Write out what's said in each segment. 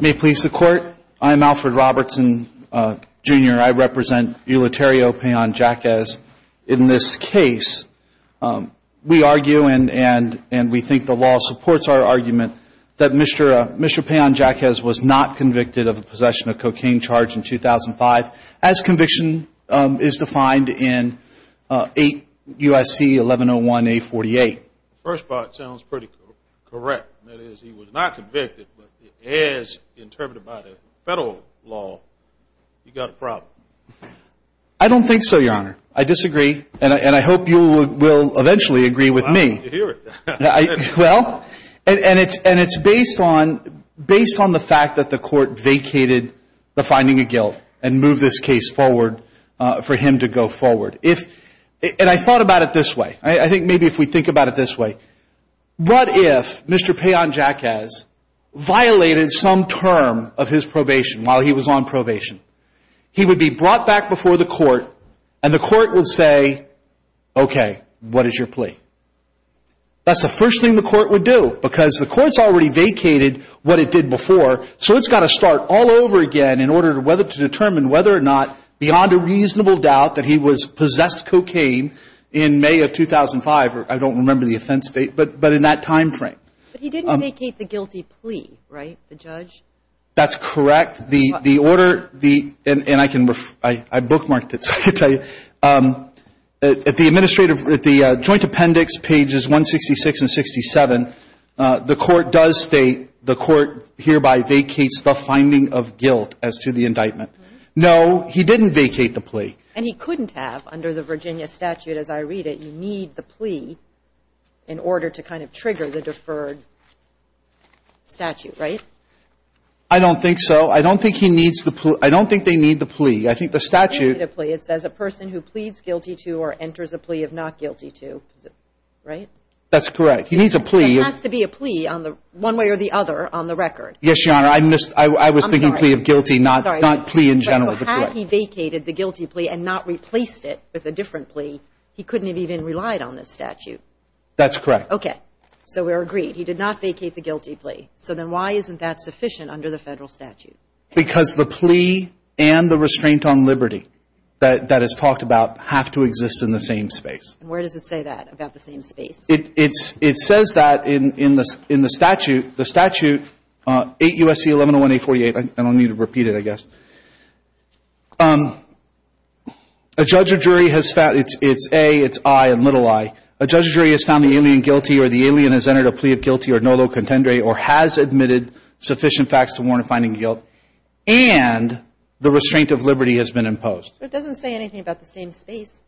May it please the Court, I'm Alfred Robertson, Jr. I represent Euterio Payan Jaquez. In this case, we argue and we think the law supports our argument that Mr. Payan Jaquez was not convicted of possession of cocaine charge in 2005 as conviction is defined in 8 U.S.C. 1101A48. First of all, it sounds pretty correct. That is, he was not convicted, but as interpreted by the federal law, he got a problem. I don't think so, Your Honor. I disagree, and I hope you will eventually agree with me. Well, I hope you hear it. And I thought about it this way. I think maybe if we think about it this way, what if Mr. Payan Jaquez violated some term of his probation while he was on probation? He would be brought back before the Court, and the Court would say, okay, what is your plea? That's the first thing the Court would do, because the Court's already vacated what it did before, so it's got to start all over again in order to determine whether or not, beyond a reasonable doubt, that he was possessed cocaine in May of 2005. I don't remember the offense date, but in that time frame. But he didn't vacate the guilty plea, right, the judge? That's correct. The order, the – and I can – I bookmarked it, so I can tell you. At the administrative – at the joint appendix, pages 166 and 67, the Court does state, the Court hereby vacates the finding of guilt as to the indictment. No, he didn't vacate the plea. And he couldn't have under the Virginia statute, as I read it. You need the plea in order to kind of trigger the deferred statute, right? I don't think so. I don't think he needs the – I don't think they need the plea. I think the statute – They need a plea. It says a person who pleads guilty to or enters a plea of not guilty to. Right? That's correct. He needs a plea. There has to be a plea on the – one way or the other on the record. Yes, Your Honor. I missed – I was thinking plea of guilty, not plea in general. But had he vacated the guilty plea and not replaced it with a different plea, he couldn't have even relied on this statute. That's correct. Okay. So we're agreed. He did not vacate the guilty plea. So then why isn't that sufficient under the Federal statute? Because the plea and the restraint on liberty that is talked about have to exist in the same space. And where does it say that, about the same space? It says that in the statute, the statute, 8 U.S.C. 1101-848. I don't need to repeat it, I guess. A judge or jury has found – it's A, it's I and little i. A judge or jury has found the alien guilty or the alien has entered a plea of guilty or nolo contendere or has admitted sufficient facts to warn of finding guilt and the restraint of liberty has been imposed. It doesn't say anything about the same space.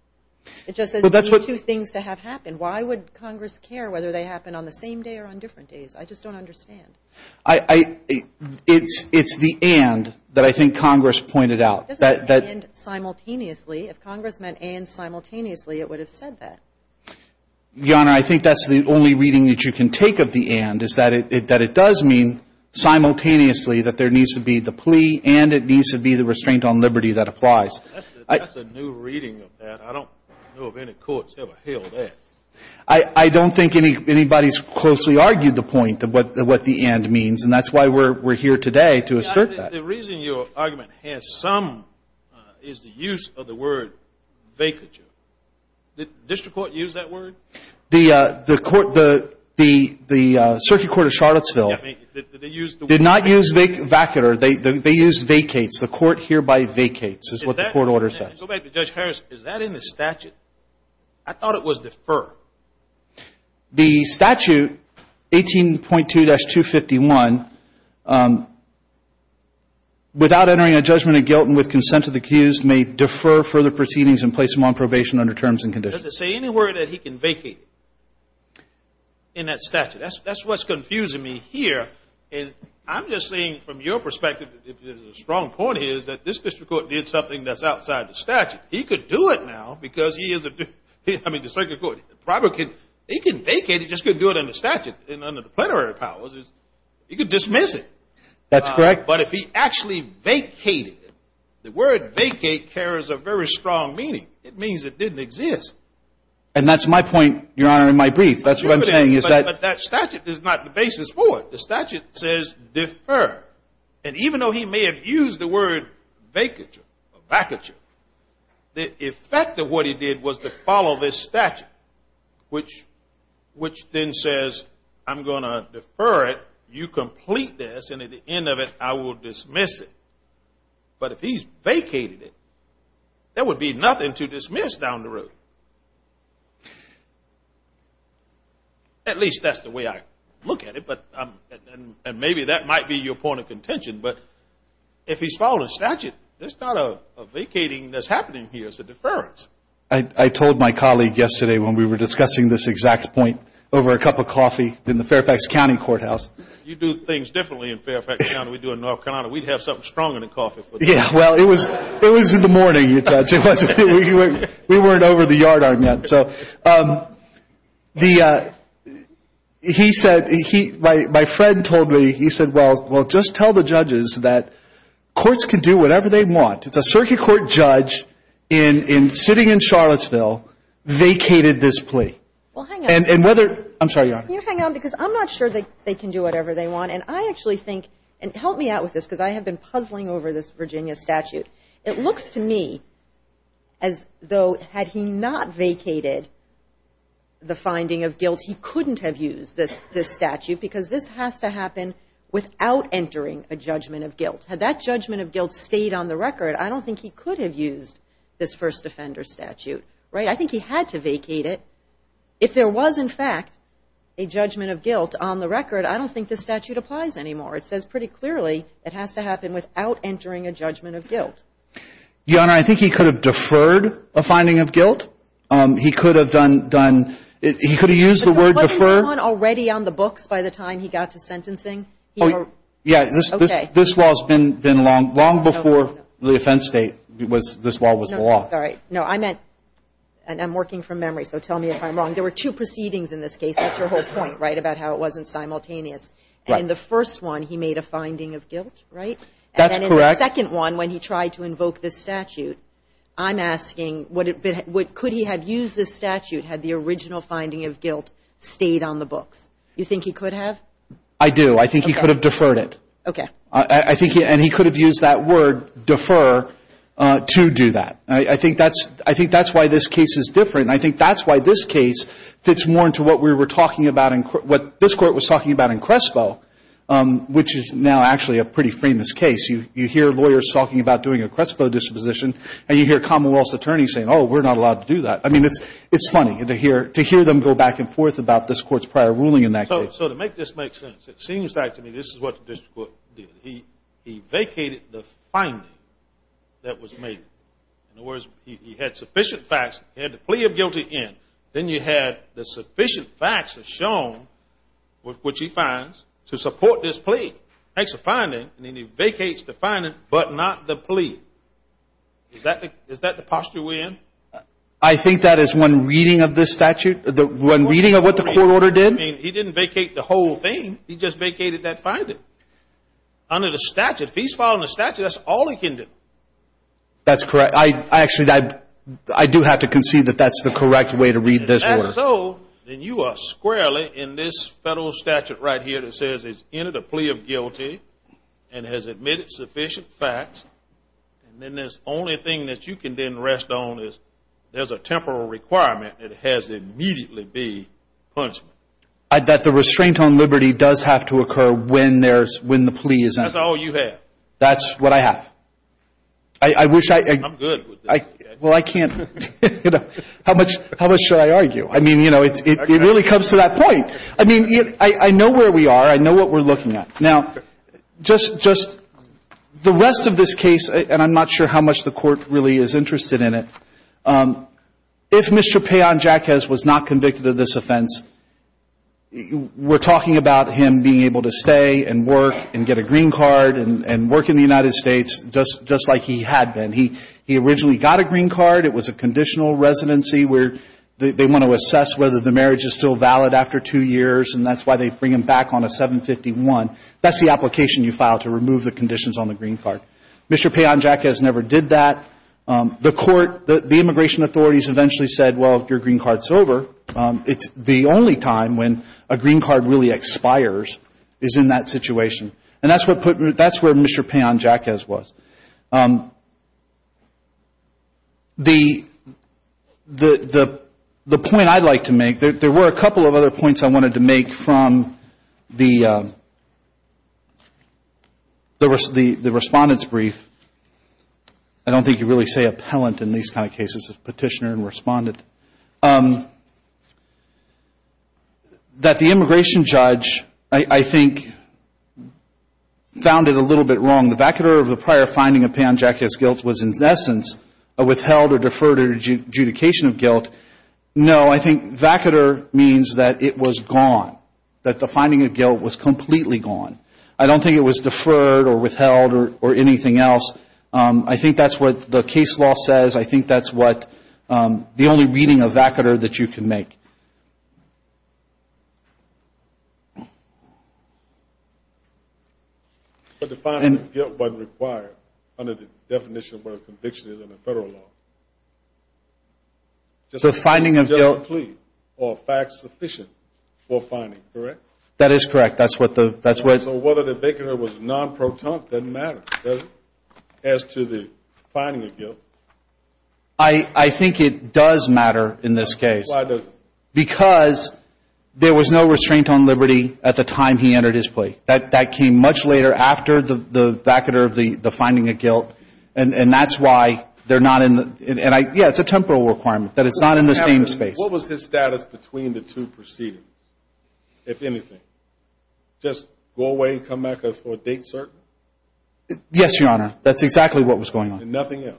It just says the two things to have happened. Why would Congress care whether they happen on the same day or on different days? I just don't understand. I – it's the and that I think Congress pointed out. It doesn't say and simultaneously. If Congress meant and simultaneously, it would have said that. Your Honor, I think that's the only reading that you can take of the and, is that it does mean simultaneously that there needs to be the plea and it needs to be the restraint on liberty that applies. That's a new reading of that. I don't know if any courts ever held that. I don't think anybody's closely argued the point of what the and means, and that's why we're here today to assert that. The reason your argument has some is the use of the word vacature. Did district court use that word? The circuit court of Charlottesville did not use vacular. They used vacates. The court hereby vacates is what the court order says. Go back to Judge Harris. Is that in the statute? I thought it was defer. The statute, 18.2-251, without entering a judgment of guilt and with consent of the accused, may defer further proceedings and place him on probation under terms and conditions. Does it say anywhere that he can vacate in that statute? That's what's confusing me here, and I'm just saying from your perspective, if there's a strong point here, is that this district court did something that's outside the statute. He could do it now because he is a district court. He could vacate. He just couldn't do it under statute. Under the plenary powers, he could dismiss it. That's correct. But if he actually vacated, the word vacate carries a very strong meaning. It means it didn't exist. And that's my point, Your Honor, in my brief. That's what I'm saying. But that statute is not the basis for it. The statute says defer, and even though he may have used the word vacature, the effect of what he did was to follow this statute, which then says, I'm going to defer it. You complete this, and at the end of it, I will dismiss it. But if he's vacated it, there would be nothing to dismiss down the road. At least that's the way I look at it. And maybe that might be your point of contention. But if he's followed a statute, there's not a vacating that's happening here. It's a deference. I told my colleague yesterday when we were discussing this exact point, over a cup of coffee in the Fairfax County Courthouse. You do things differently in Fairfax County than we do in North Carolina. We'd have something stronger than coffee. Yeah, well, it was in the morning, Judge. We weren't over the yard arm yet. So my friend told me, he said, well, just tell the judges that courts can do whatever they want. It's a circuit court judge sitting in Charlottesville vacated this plea. Well, hang on. I'm sorry, Your Honor. Can you hang on? Because I'm not sure they can do whatever they want. And I actually think, and help me out with this, because I have been puzzling over this Virginia statute. It looks to me as though had he not vacated the finding of guilt, he couldn't have used this statute because this has to happen without entering a judgment of guilt. Had that judgment of guilt stayed on the record, I don't think he could have used this first offender statute. Right? I think he had to vacate it. If there was, in fact, a judgment of guilt on the record, I don't think this statute applies anymore. It says pretty clearly it has to happen without entering a judgment of guilt. Your Honor, I think he could have deferred a finding of guilt. He could have done, he could have used the word defer. But wasn't that one already on the books by the time he got to sentencing? Oh, yeah. Okay. This law has been long before the offense state, this law was the law. No, I meant, and I'm working from memory, so tell me if I'm wrong. There were two proceedings in this case. That's your whole point, right, about how it wasn't simultaneous. Right. In the first one, he made a finding of guilt, right? That's correct. And then in the second one, when he tried to invoke this statute, I'm asking, could he have used this statute had the original finding of guilt stayed on the books? You think he could have? I do. I think he could have deferred it. Okay. I think, and he could have used that word defer to do that. I think that's why this case is different. I think that's why this case fits more into what we were talking about, what this court was talking about in Crespo, which is now actually a pretty famous case. You hear lawyers talking about doing a Crespo disposition, and you hear commonwealth attorneys saying, oh, we're not allowed to do that. I mean, it's funny to hear them go back and forth about this court's prior ruling in that case. So to make this make sense, it seems like to me this is what the district court did. He vacated the finding that was made. In other words, he had sufficient facts. He had the plea of guilty in. Then you had the sufficient facts shown, which he finds, to support this plea. Makes a finding, and then he vacates the finding but not the plea. Is that the posture we're in? I think that is one reading of this statute, one reading of what the court order did. I mean, he didn't vacate the whole thing. He just vacated that finding. Under the statute, if he's following the statute, that's all he can do. That's correct. Actually, I do have to concede that that's the correct way to read this order. If that's so, then you are squarely in this federal statute right here that says he's entered a plea of guilty and has admitted sufficient facts. And then the only thing that you can then rest on is there's a temporal requirement that it has to immediately be punishment. That the restraint on liberty does have to occur when the plea is in. That's all you have. That's what I have. I wish I could. I'm good with this. Well, I can't. How much should I argue? I mean, you know, it really comes to that point. I mean, I know where we are. I know what we're looking at. Now, just the rest of this case, and I'm not sure how much the court really is interested in it, if Mr. Payon-Jacquez was not convicted of this offense, we're talking about him being able to stay and work and get a green card and work in the United States just like he had been. He originally got a green card. It was a conditional residency where they want to assess whether the marriage is still valid after two years, and that's why they bring him back on a 751. That's the application you file to remove the conditions on the green card. Mr. Payon-Jacquez never did that. The court, the immigration authorities eventually said, well, your green card's over. It's the only time when a green card really expires is in that situation, and that's where Mr. Payon-Jacquez was. The point I'd like to make, there were a couple of other points I wanted to make from the respondent's brief. I don't think you really say appellant in these kind of cases, petitioner and respondent. That the immigration judge, I think, found it a little bit wrong. The vacater of the prior finding of Payon-Jacquez's guilt was, in essence, a withheld or deferred adjudication of guilt. No, I think vacater means that it was gone, that the finding of guilt was completely gone. I don't think it was deferred or withheld or anything else. I think that's what the case law says. I think that's the only reading of vacater that you can make. But the finding of guilt wasn't required under the definition of what a conviction is in the federal law. Just a plea or facts sufficient for finding, correct? That is correct. So whether the vacater was non-protont doesn't matter, does it, as to the finding of guilt? I think it does matter in this case. Why does it? Because there was no restraint on liberty at the time he entered his plea. That came much later after the vacater of the finding of guilt. And that's why they're not in the, yeah, it's a temporal requirement, that it's not in the same space. What was his status between the two proceedings, if anything? Just go away and come back for a date certain? Yes, Your Honor. That's exactly what was going on. And nothing else?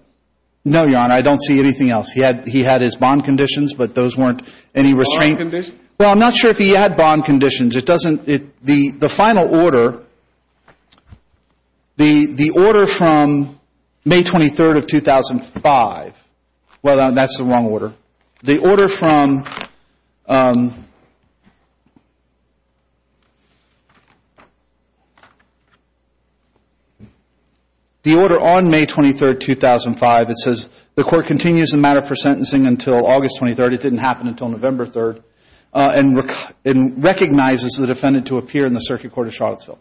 No, Your Honor. I don't see anything else. He had his bond conditions, but those weren't any restraint. Bond conditions? Well, I'm not sure if he had bond conditions. It doesn't, the final order, the order from May 23rd of 2005, well, that's the wrong order. The order from, the order on May 23rd, 2005, it says, the court continues the matter for sentencing until August 23rd, it didn't happen until November 3rd, and recognizes the defendant to appear in the Circuit Court of Charlottesville.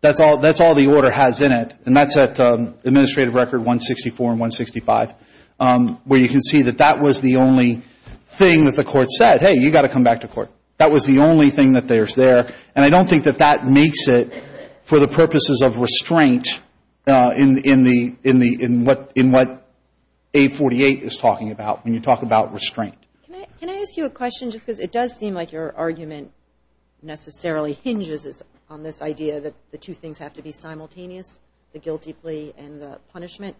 That's all the order has in it, and that's at administrative record 164 and 165, where you can see that that was the only thing that the court said. Hey, you've got to come back to court. That was the only thing that there's there, and I don't think that that makes it for the purposes of restraint in the, in the, in what, in what A48 is talking about when you talk about restraint. Can I ask you a question, just because it does seem like your argument necessarily hinges on this idea that the two things have to be simultaneous, the guilty plea and the punishment.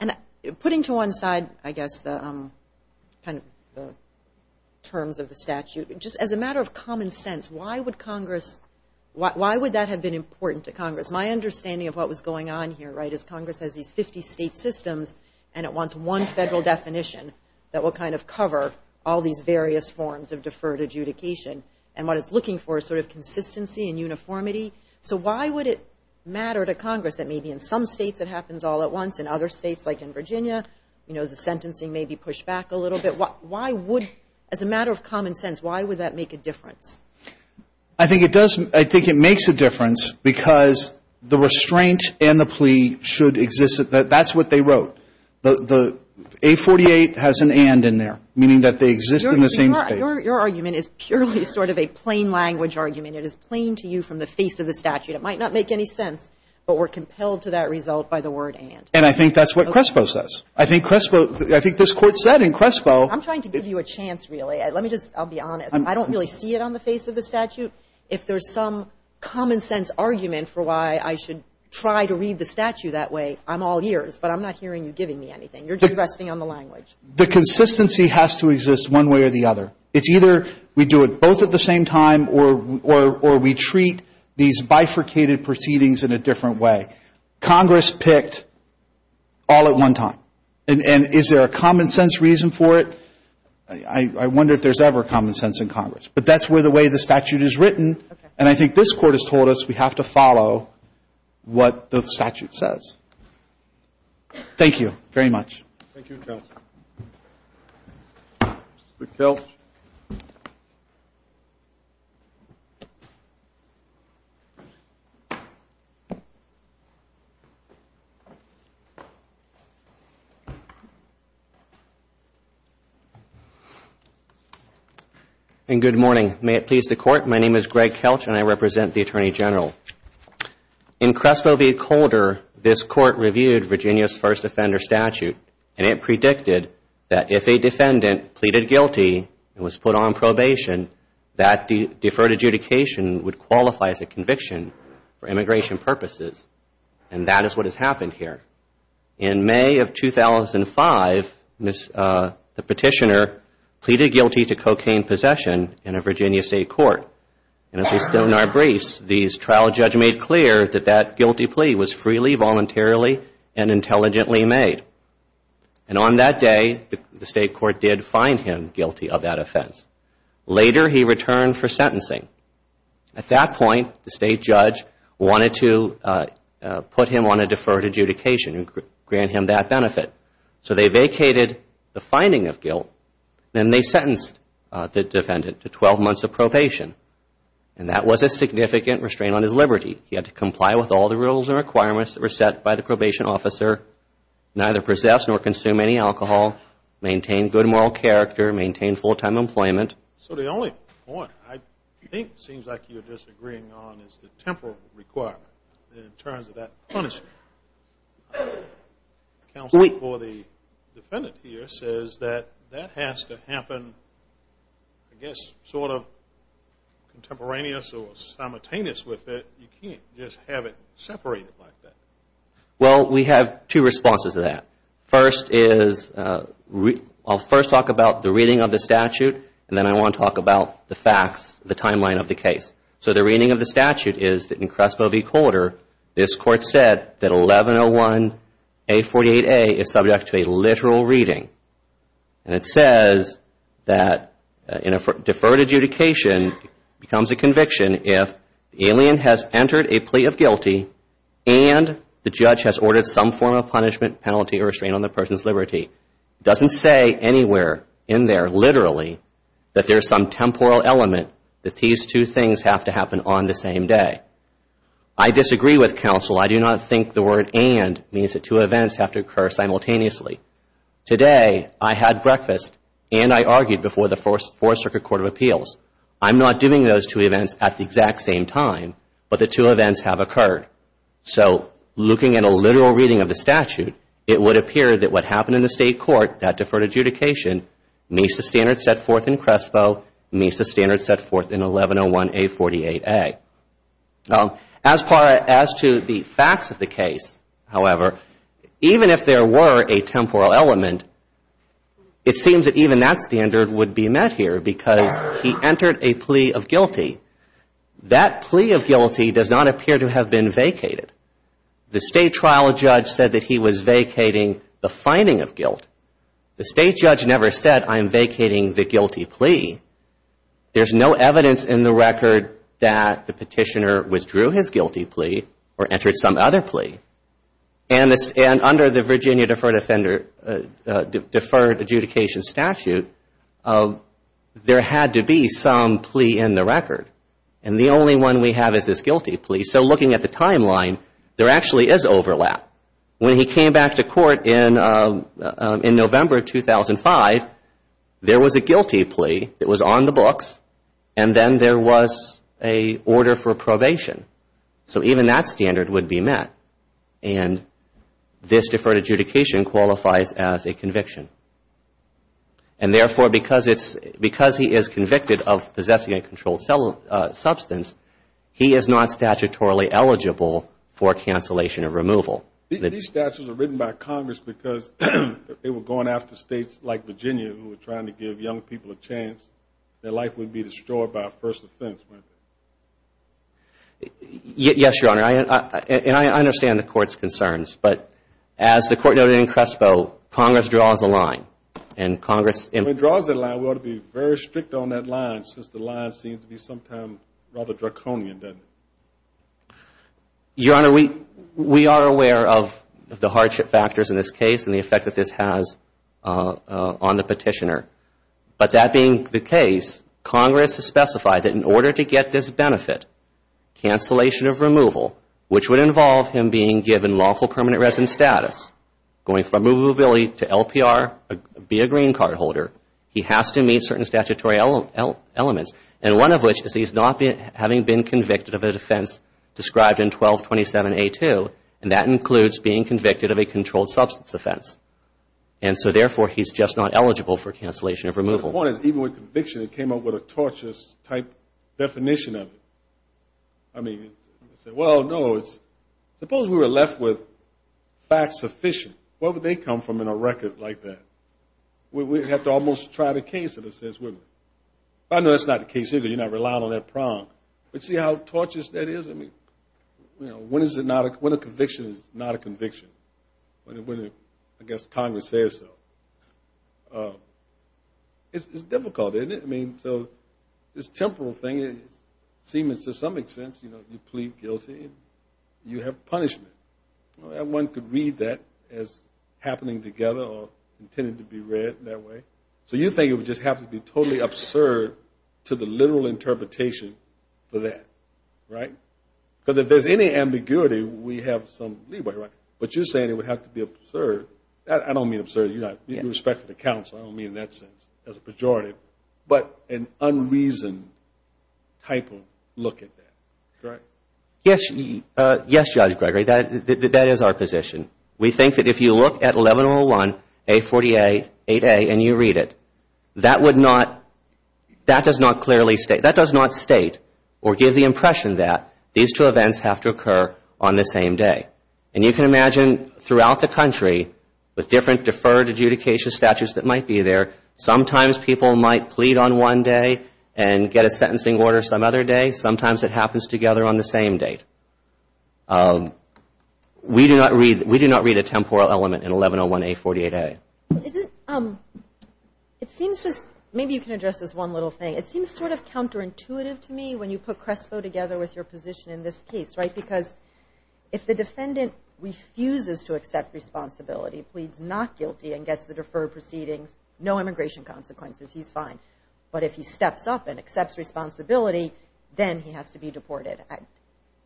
And putting to one side, I guess, the kind of terms of the statute, just as a matter of common sense, why would Congress, why would that have been important to Congress? My understanding of what was going on here, right, is Congress has these 50 state systems, and it wants one federal definition that will kind of cover all these various forms of deferred adjudication, and what it's looking for is sort of consistency and uniformity. So why would it matter to Congress that maybe in some states it happens all at once, in other states, like in Virginia, you know, the sentencing may be pushed back a little bit. Why would, as a matter of common sense, why would that make a difference? I think it does. I think it makes a difference because the restraint and the plea should exist. That's what they wrote. The A48 has an and in there, meaning that they exist in the same space. Your argument is purely sort of a plain language argument. It is plain to you from the face of the statute. It might not make any sense, but we're compelled to that result by the word and. And I think that's what Crespo says. I think Crespo, I think this Court said in Crespo. I'm trying to give you a chance, really. Let me just, I'll be honest. I don't really see it on the face of the statute. If there's some common sense argument for why I should try to read the statute that way, I'm all ears, but I'm not hearing you giving me anything. You're just resting on the language. The consistency has to exist one way or the other. It's either we do it both at the same time or we treat these bifurcated proceedings in a different way. Congress picked all at one time. And is there a common sense reason for it? I wonder if there's ever common sense in Congress. But that's the way the statute is written. And I think this Court has told us we have to follow what the statute says. Thank you very much. Thank you, Kelch. Mr. Kelch. Good morning. May it please the Court, my name is Greg Kelch and I represent the Attorney General. In Crespo v. Calder, this Court reviewed Virginia's first offender statute and it predicted that if a defendant pleaded guilty and was put on probation, that deferred adjudication would qualify as a conviction for immigration purposes. And that is what has happened here. In May of 2005, the petitioner pleaded guilty to cocaine possession in a Virginia state court. And at least in our briefs, the trial judge made clear that that guilty plea was freely, voluntarily, and intelligently made. And on that day, the state court did find him guilty of that offense. Later, he returned for sentencing. At that point, the state judge wanted to put him on a deferred adjudication and grant him that benefit. So they vacated the finding of guilt and they sentenced the defendant to 12 months of probation. And that was a significant restraint on his liberty. He had to comply with all the rules and requirements that were set by the probation officer, neither possess nor consume any alcohol, maintain good moral character, maintain full-time employment. So the only point I think it seems like you're disagreeing on is the temporal requirement in terms of that punishment. The counsel for the defendant here says that that has to happen, I guess, sort of contemporaneous or simultaneous with it. You can't just have it separated like that. Well, we have two responses to that. First is I'll first talk about the reading of the statute, and then I want to talk about the facts, the timeline of the case. So the reading of the statute is that in Crespo v. Coulter, this court said that 1101A48A is subject to a literal reading. And it says that deferred adjudication becomes a conviction if the alien has entered a plea of guilty and the judge has ordered some form of punishment, penalty, or restraint on the person's liberty. It doesn't say anywhere in there literally that there's some temporal element that these two things have to happen on the same day. I disagree with counsel. I do not think the word and means that two events have to occur simultaneously. Today I had breakfast and I argued before the Fourth Circuit Court of Appeals. I'm not doing those two events at the exact same time, but the two events have occurred. So looking at a literal reading of the statute, it would appear that what happened in the State Court, that deferred adjudication, meets the standard set forth in Crespo, meets the standard set forth in 1101A48A. As to the facts of the case, however, even if there were a temporal element, it seems that even that standard would be met here because he entered a plea of guilty. That plea of guilty does not appear to have been vacated. The State trial judge said that he was vacating the finding of guilt. The State judge never said, I'm vacating the guilty plea. There's no evidence in the record that the petitioner withdrew his guilty plea or entered some other plea. And under the Virginia deferred adjudication statute, there had to be some plea in the record. And the only one we have is this guilty plea. So looking at the timeline, there actually is overlap. When he came back to court in November 2005, there was a guilty plea that was on the books, and then there was an order for probation. So even that standard would be met. And this deferred adjudication qualifies as a conviction. And therefore, because he is convicted of possessing a controlled substance, he is not statutorily eligible for cancellation of removal. These statutes are written by Congress because they were going after states like Virginia who were trying to give young people a chance. Their life would be destroyed by a first offense, wouldn't it? Yes, Your Honor. And I understand the Court's concerns. But as the Court noted in Crespo, Congress draws a line. When it draws a line, we ought to be very strict on that line since the line seems to be sometimes rather draconian, doesn't it? Your Honor, we are aware of the hardship factors in this case and the effect that this has on the petitioner. But that being the case, Congress has specified that in order to get this benefit, cancellation of removal, which would involve him being given lawful permanent resident status, going from movability to LPR, be a green card holder, he has to meet certain statutory elements, and one of which is he's not having been convicted of a defense described in 1227A2, and that includes being convicted of a controlled substance offense. And so, therefore, he's just not eligible for cancellation of removal. The point is even with conviction, it came up with a torturous-type definition of it. I mean, well, no, suppose we were left with facts sufficient. Where would they come from in a record like that? We'd have to almost try the case in a sense, wouldn't we? I know that's not the case either. You're not relying on that prong. But see how torturous that is? I mean, when a conviction is not a conviction, when I guess Congress says so, it's difficult, isn't it? I mean, so this temporal thing seems to some extent you plead guilty and you have punishment. One could read that as happening together or intended to be read that way. So you think it would just have to be totally absurd to the literal interpretation for that, right? Because if there's any ambiguity, we have some leeway, right? But you're saying it would have to be absurd. I don't mean absurd in respect to the counsel. I don't mean in that sense as a pejorative, but an unreasoned type of look at that, correct? Yes, Judge Gregory, that is our position. We think that if you look at 1101A48A and you read it, that does not state or give the impression that these two events have to occur on the same day. And you can imagine throughout the country with different deferred adjudication statutes that might be there, sometimes people might plead on one day and get a sentencing order some other day. Sometimes it happens together on the same day. We do not read a temporal element in 1101A48A. It seems just – maybe you can address this one little thing. It seems sort of counterintuitive to me when you put Crespo together with your position in this case, right? Because if the defendant refuses to accept responsibility, pleads not guilty and gets the deferred proceedings, no immigration consequences, he's fine. But if he steps up and accepts responsibility, then he has to be deported.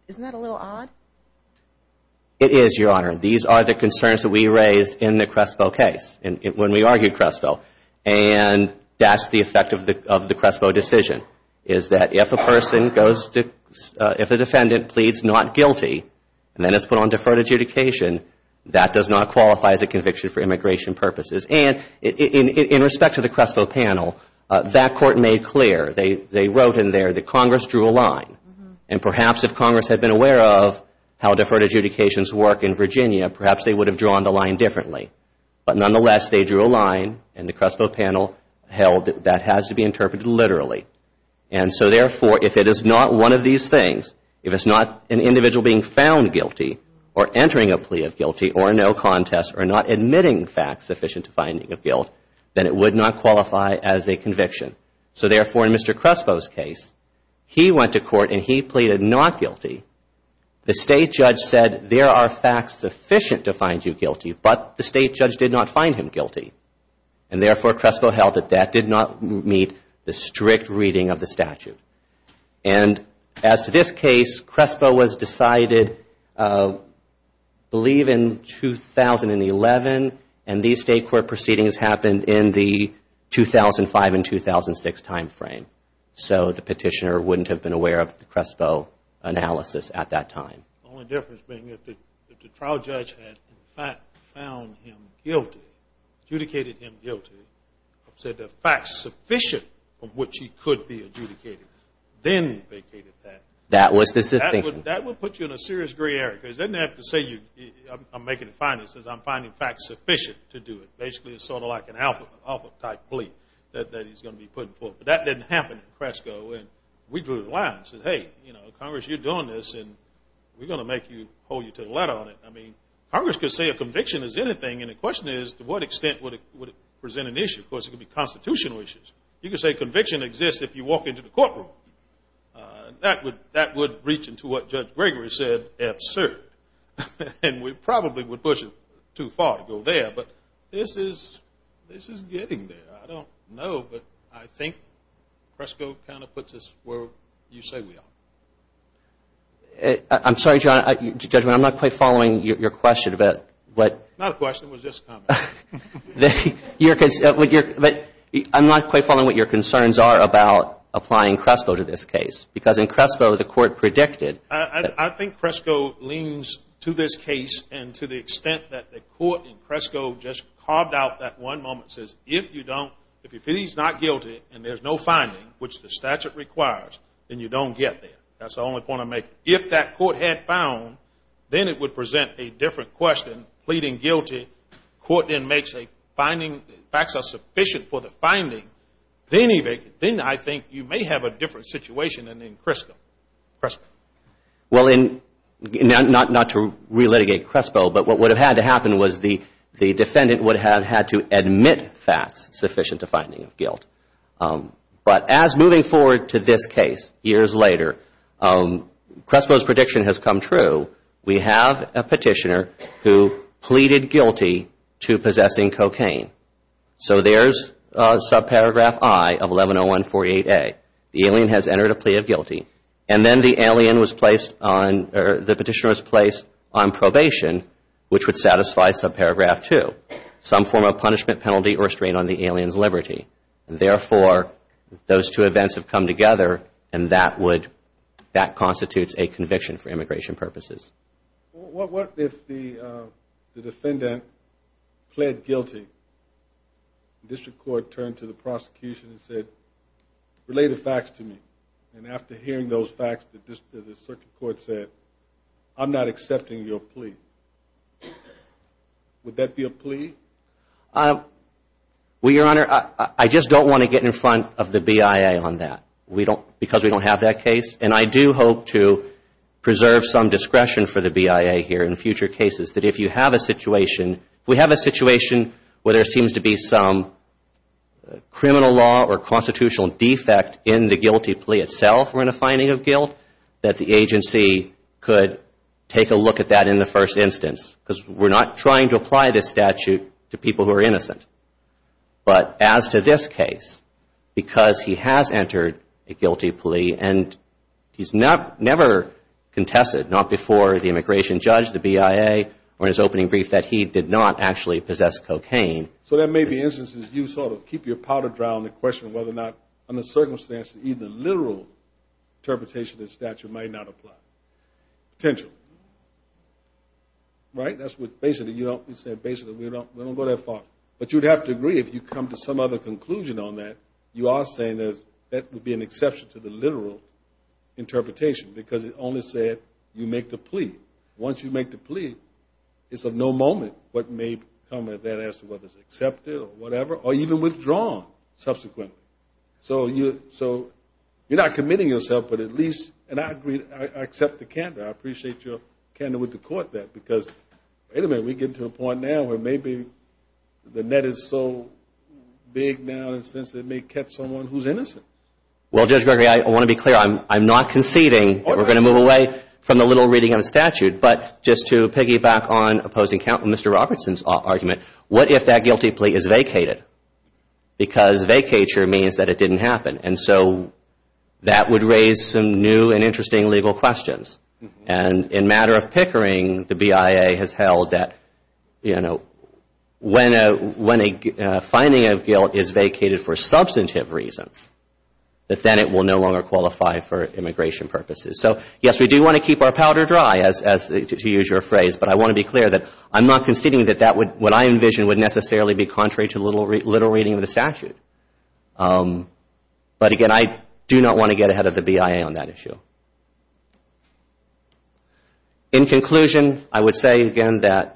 Isn't that a little odd? It is, Your Honor. These are the concerns that we raised in the Crespo case when we argued Crespo. And that's the effect of the Crespo decision is that if a person goes to – if a defendant pleads not guilty and then is put on deferred adjudication, that does not qualify as a conviction for immigration purposes. And in respect to the Crespo panel, that court made clear. They wrote in there that Congress drew a line. And perhaps if Congress had been aware of how deferred adjudications work in Virginia, perhaps they would have drawn the line differently. But nonetheless, they drew a line, and the Crespo panel held that that has to be interpreted literally. And so, therefore, if it is not one of these things, if it's not an individual being found guilty or entering a plea of guilty or no contest or not admitting facts sufficient to finding a guilt, then it would not qualify as a conviction. So, therefore, in Mr. Crespo's case, he went to court and he pleaded not guilty. The State judge said there are facts sufficient to find you guilty, but the State judge did not find him guilty. And, therefore, Crespo held that that did not meet the strict reading of the statute. And as to this case, Crespo was decided, I believe, in 2011, and these State court proceedings happened in the 2005 and 2006 timeframe. So the petitioner wouldn't have been aware of the Crespo analysis at that time. The only difference being that the trial judge had, in fact, found him guilty, adjudicated him guilty, said there are facts sufficient of which he could be adjudicated, then vacated that. That was the situation. That would put you in a serious gray area, because he doesn't have to say, I'm making a fine, he says, I'm finding facts sufficient to do it. Basically, it's sort of like an alpha type plea that he's going to be putting forth. But that didn't happen in Crespo. And we drew the line and said, hey, you know, Congress, you're doing this, and we're going to make you hold you to the letter on it. I mean, Congress could say a conviction is anything, and the question is to what extent would it present an issue? Of course, it could be constitutional issues. You could say conviction exists if you walk into the courtroom. That would reach into what Judge Gregory said, absurd. And we probably would push it too far to go there, but this is getting there. I don't know, but I think Crespo kind of puts us where you say we are. I'm sorry, Judge, I'm not quite following your question. Not a question, it was just a comment. I'm not quite following what your concerns are about applying Crespo to this case, because in Crespo the court predicted. I think Crespo leans to this case and to the extent that the court in Crespo just carved out that one moment, says if you don't, if he's not guilty and there's no finding, which the statute requires, then you don't get there. That's the only point I'm making. If that court had found, then it would present a different question, pleading guilty. The court then makes a finding, facts are sufficient for the finding. Then I think you may have a different situation than in Crespo. Well, not to re-litigate Crespo, but what would have had to happen was the defendant would have had to admit facts sufficient to finding of guilt. But as moving forward to this case, years later, Crespo's prediction has come true. We have a petitioner who pleaded guilty to possessing cocaine. So there's subparagraph I of 110148A. The alien has entered a plea of guilty, and then the petitioner was placed on probation, which would satisfy subparagraph II, some form of punishment, penalty, or strain on the alien's liberty. Therefore, those two events have come together, and that constitutes a conviction for immigration purposes. What if the defendant pled guilty? The district court turned to the prosecution and said, relay the facts to me. And after hearing those facts, the circuit court said, I'm not accepting your plea. Would that be a plea? Well, Your Honor, I just don't want to get in front of the BIA on that, because we don't have that case. And I do hope to preserve some discretion for the BIA here in future cases, that if you have a situation, if we have a situation where there seems to be some criminal law or constitutional defect in the guilty plea itself, or in a finding of guilt, that the agency could take a look at that in the first instance. Because we're not trying to apply this statute to people who are innocent. But as to this case, because he has entered a guilty plea, and he's never contested, not before the immigration judge, the BIA, or in his opening brief, that he did not actually possess cocaine. So there may be instances you sort of keep your powder dry on the question of whether or not, under circumstances, even a literal interpretation of the statute might not apply. Potentially. Right? That's what, basically, we don't go that far. But you'd have to agree, if you come to some other conclusion on that, you are saying that would be an exception to the literal interpretation, because it only said you make the plea. Once you make the plea, it's of no moment what may come of that as to whether it's accepted or whatever, or even withdrawn subsequently. So you're not committing yourself, but at least, and I agree, I accept the candor. I appreciate your candor with the court there. Because, wait a minute, we get to a point now where maybe the net is so big now in the sense it may catch someone who's innocent. Well, Judge Gregory, I want to be clear. I'm not conceding that we're going to move away from the little reading of the statute. But just to piggyback on opposing Mr. Robertson's argument, what if that guilty plea is vacated? Because vacature means that it didn't happen. And so that would raise some new and interesting legal questions. And in matter of pickering, the BIA has held that, you know, when a finding of guilt is vacated for substantive reasons, that then it will no longer qualify for immigration purposes. So, yes, we do want to keep our powder dry, to use your phrase. But I want to be clear that I'm not conceding that what I envision would necessarily be contrary to the little reading of the statute. But, again, I do not want to get ahead of the BIA on that issue. In conclusion, I would say, again, that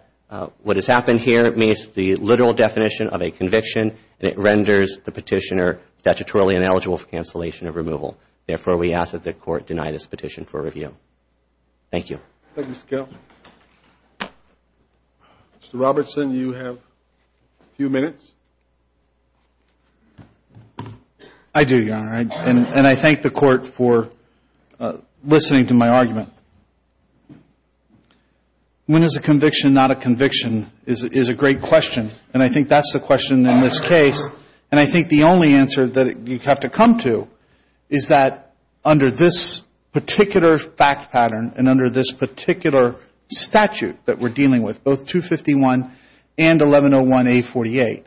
what has happened here meets the literal definition of a conviction and it renders the petitioner statutorily ineligible for cancellation of removal. Therefore, we ask that the court deny this petition for review. Thank you. Thank you, Mr. Carroll. Mr. Robertson, you have a few minutes. I do, Your Honor. And I thank the Court for listening to my argument. When is a conviction not a conviction is a great question. And I think that's the question in this case. And I think the only answer that you have to come to is that under this particular fact pattern and under this particular statute that we're dealing with, both 251 and 1101A48,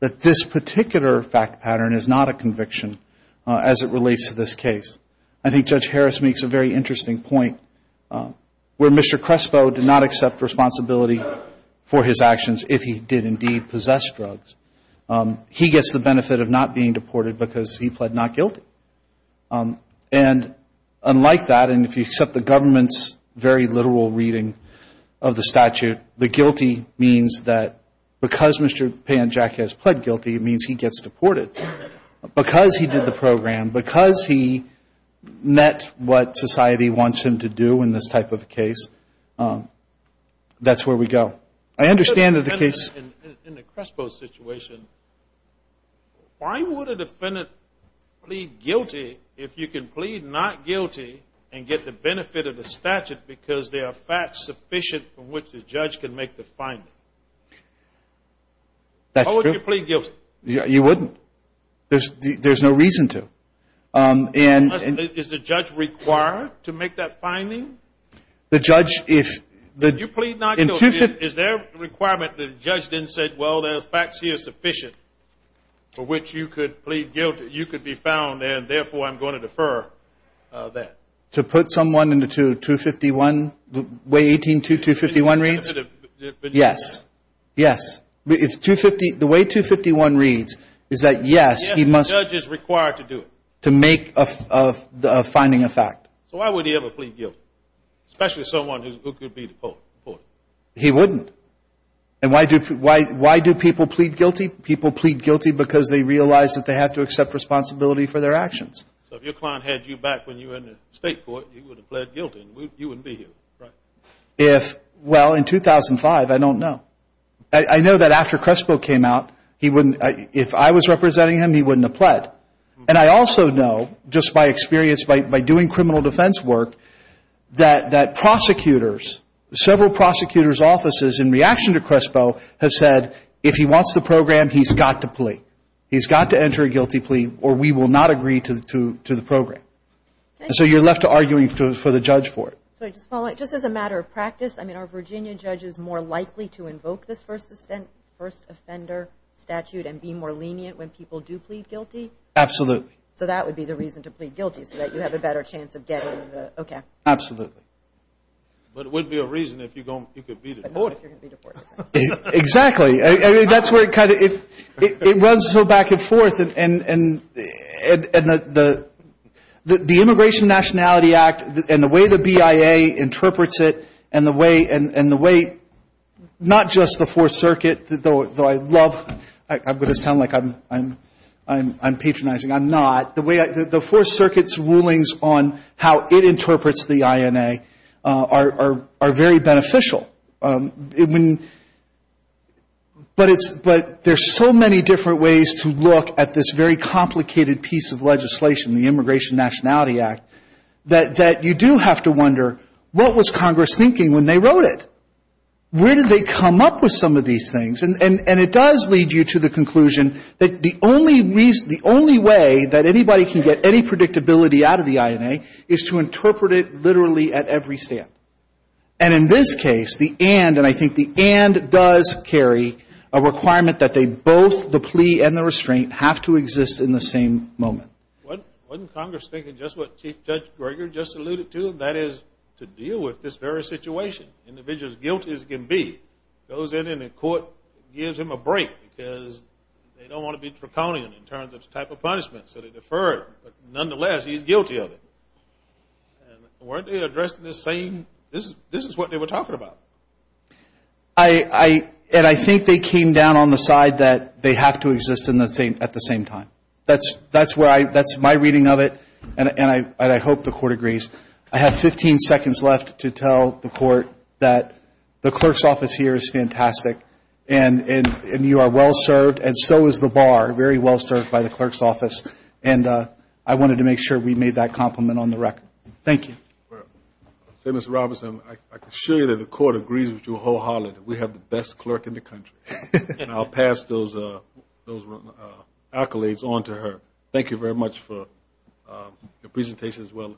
that this particular fact pattern is not a conviction as it relates to this case. I think Judge Harris makes a very interesting point where Mr. Crespo did not accept responsibility for his actions if he did indeed possess drugs. He gets the benefit of not being deported because he pled not guilty. And unlike that, and if you accept the government's very literal reading of the statute, the guilty means that because Mr. Panjacki has pled guilty, it means he gets deported. Because he did the program, because he met what society wants him to do in this type of a case, that's where we go. I understand that the case — Why would a defendant plead guilty if you can plead not guilty and get the benefit of the statute because there are facts sufficient from which the judge can make the finding? That's true. Why would you plead guilty? You wouldn't. There's no reason to. Is the judge required to make that finding? The judge, if — Did you plead not guilty? Is there a requirement that the judge then said, well, there are facts here sufficient for which you could plead guilty, you could be found, and therefore I'm going to defer that? To put someone into 251, the way 18.2.251 reads? Yes. Yes. The way 251 reads is that, yes, he must — Yes, the judge is required to do it. To make a finding a fact. So why would he ever plead guilty, especially someone who could be deported? He wouldn't. And why do people plead guilty? People plead guilty because they realize that they have to accept responsibility for their actions. So if your client had you back when you were in the state court, you would have pled guilty. You wouldn't be here, right? If — well, in 2005, I don't know. I know that after Crespo came out, he wouldn't — if I was representing him, he wouldn't have pled. And I also know, just by experience, by doing criminal defense work, that prosecutors, several prosecutors' offices, in reaction to Crespo, have said, if he wants the program, he's got to plea. He's got to enter a guilty plea or we will not agree to the program. And so you're left arguing for the judge for it. Just as a matter of practice, I mean, are Virginia judges more likely to invoke this first offender statute and be more lenient when people do plead guilty? Absolutely. So that would be the reason to plead guilty, so that you have a better chance of getting the — okay. Absolutely. But it wouldn't be a reason if you're going — you could be deported. But not if you're going to be deported. Exactly. I mean, that's where it kind of — it runs so back and forth. And the Immigration Nationality Act and the way the BIA interprets it and the way — not just the Fourth Circuit, though I love — I'm going to sound like I'm patronizing. I'm not. The way — the Fourth Circuit's rulings on how it interprets the INA are very beneficial. But it's — but there's so many different ways to look at this very complicated piece of legislation, the Immigration Nationality Act, that you do have to wonder, what was Congress thinking when they wrote it? Where did they come up with some of these things? And it does lead you to the conclusion that the only reason — the only way that anybody can get any predictability out of the INA is to interpret it literally at every stand. And in this case, the and — and I think the and does carry a requirement that they both, the plea and the restraint, have to exist in the same moment. Wasn't Congress thinking just what Chief Judge Greger just alluded to, and that is to deal with this very situation. Individual's guilt as it can be goes in and the court gives him a break because they don't want to be draconian in terms of the type of punishment, so they defer it. But nonetheless, he's guilty of it. And weren't they addressing the same — this is what they were talking about. I — and I think they came down on the side that they have to exist in the same — at the same time. That's where I — that's my reading of it, and I hope the court agrees. I have 15 seconds left to tell the court that the clerk's office here is fantastic, and you are well served, and so is the bar, very well served by the clerk's office. And I wanted to make sure we made that compliment on the record. Thank you. Say, Mr. Robertson, I can assure you that the court agrees with you wholeheartedly. We have the best clerk in the country, and I'll pass those accolades on to her. Thank you very much for your presentation as well,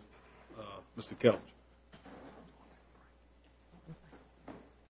Mr. Kelch.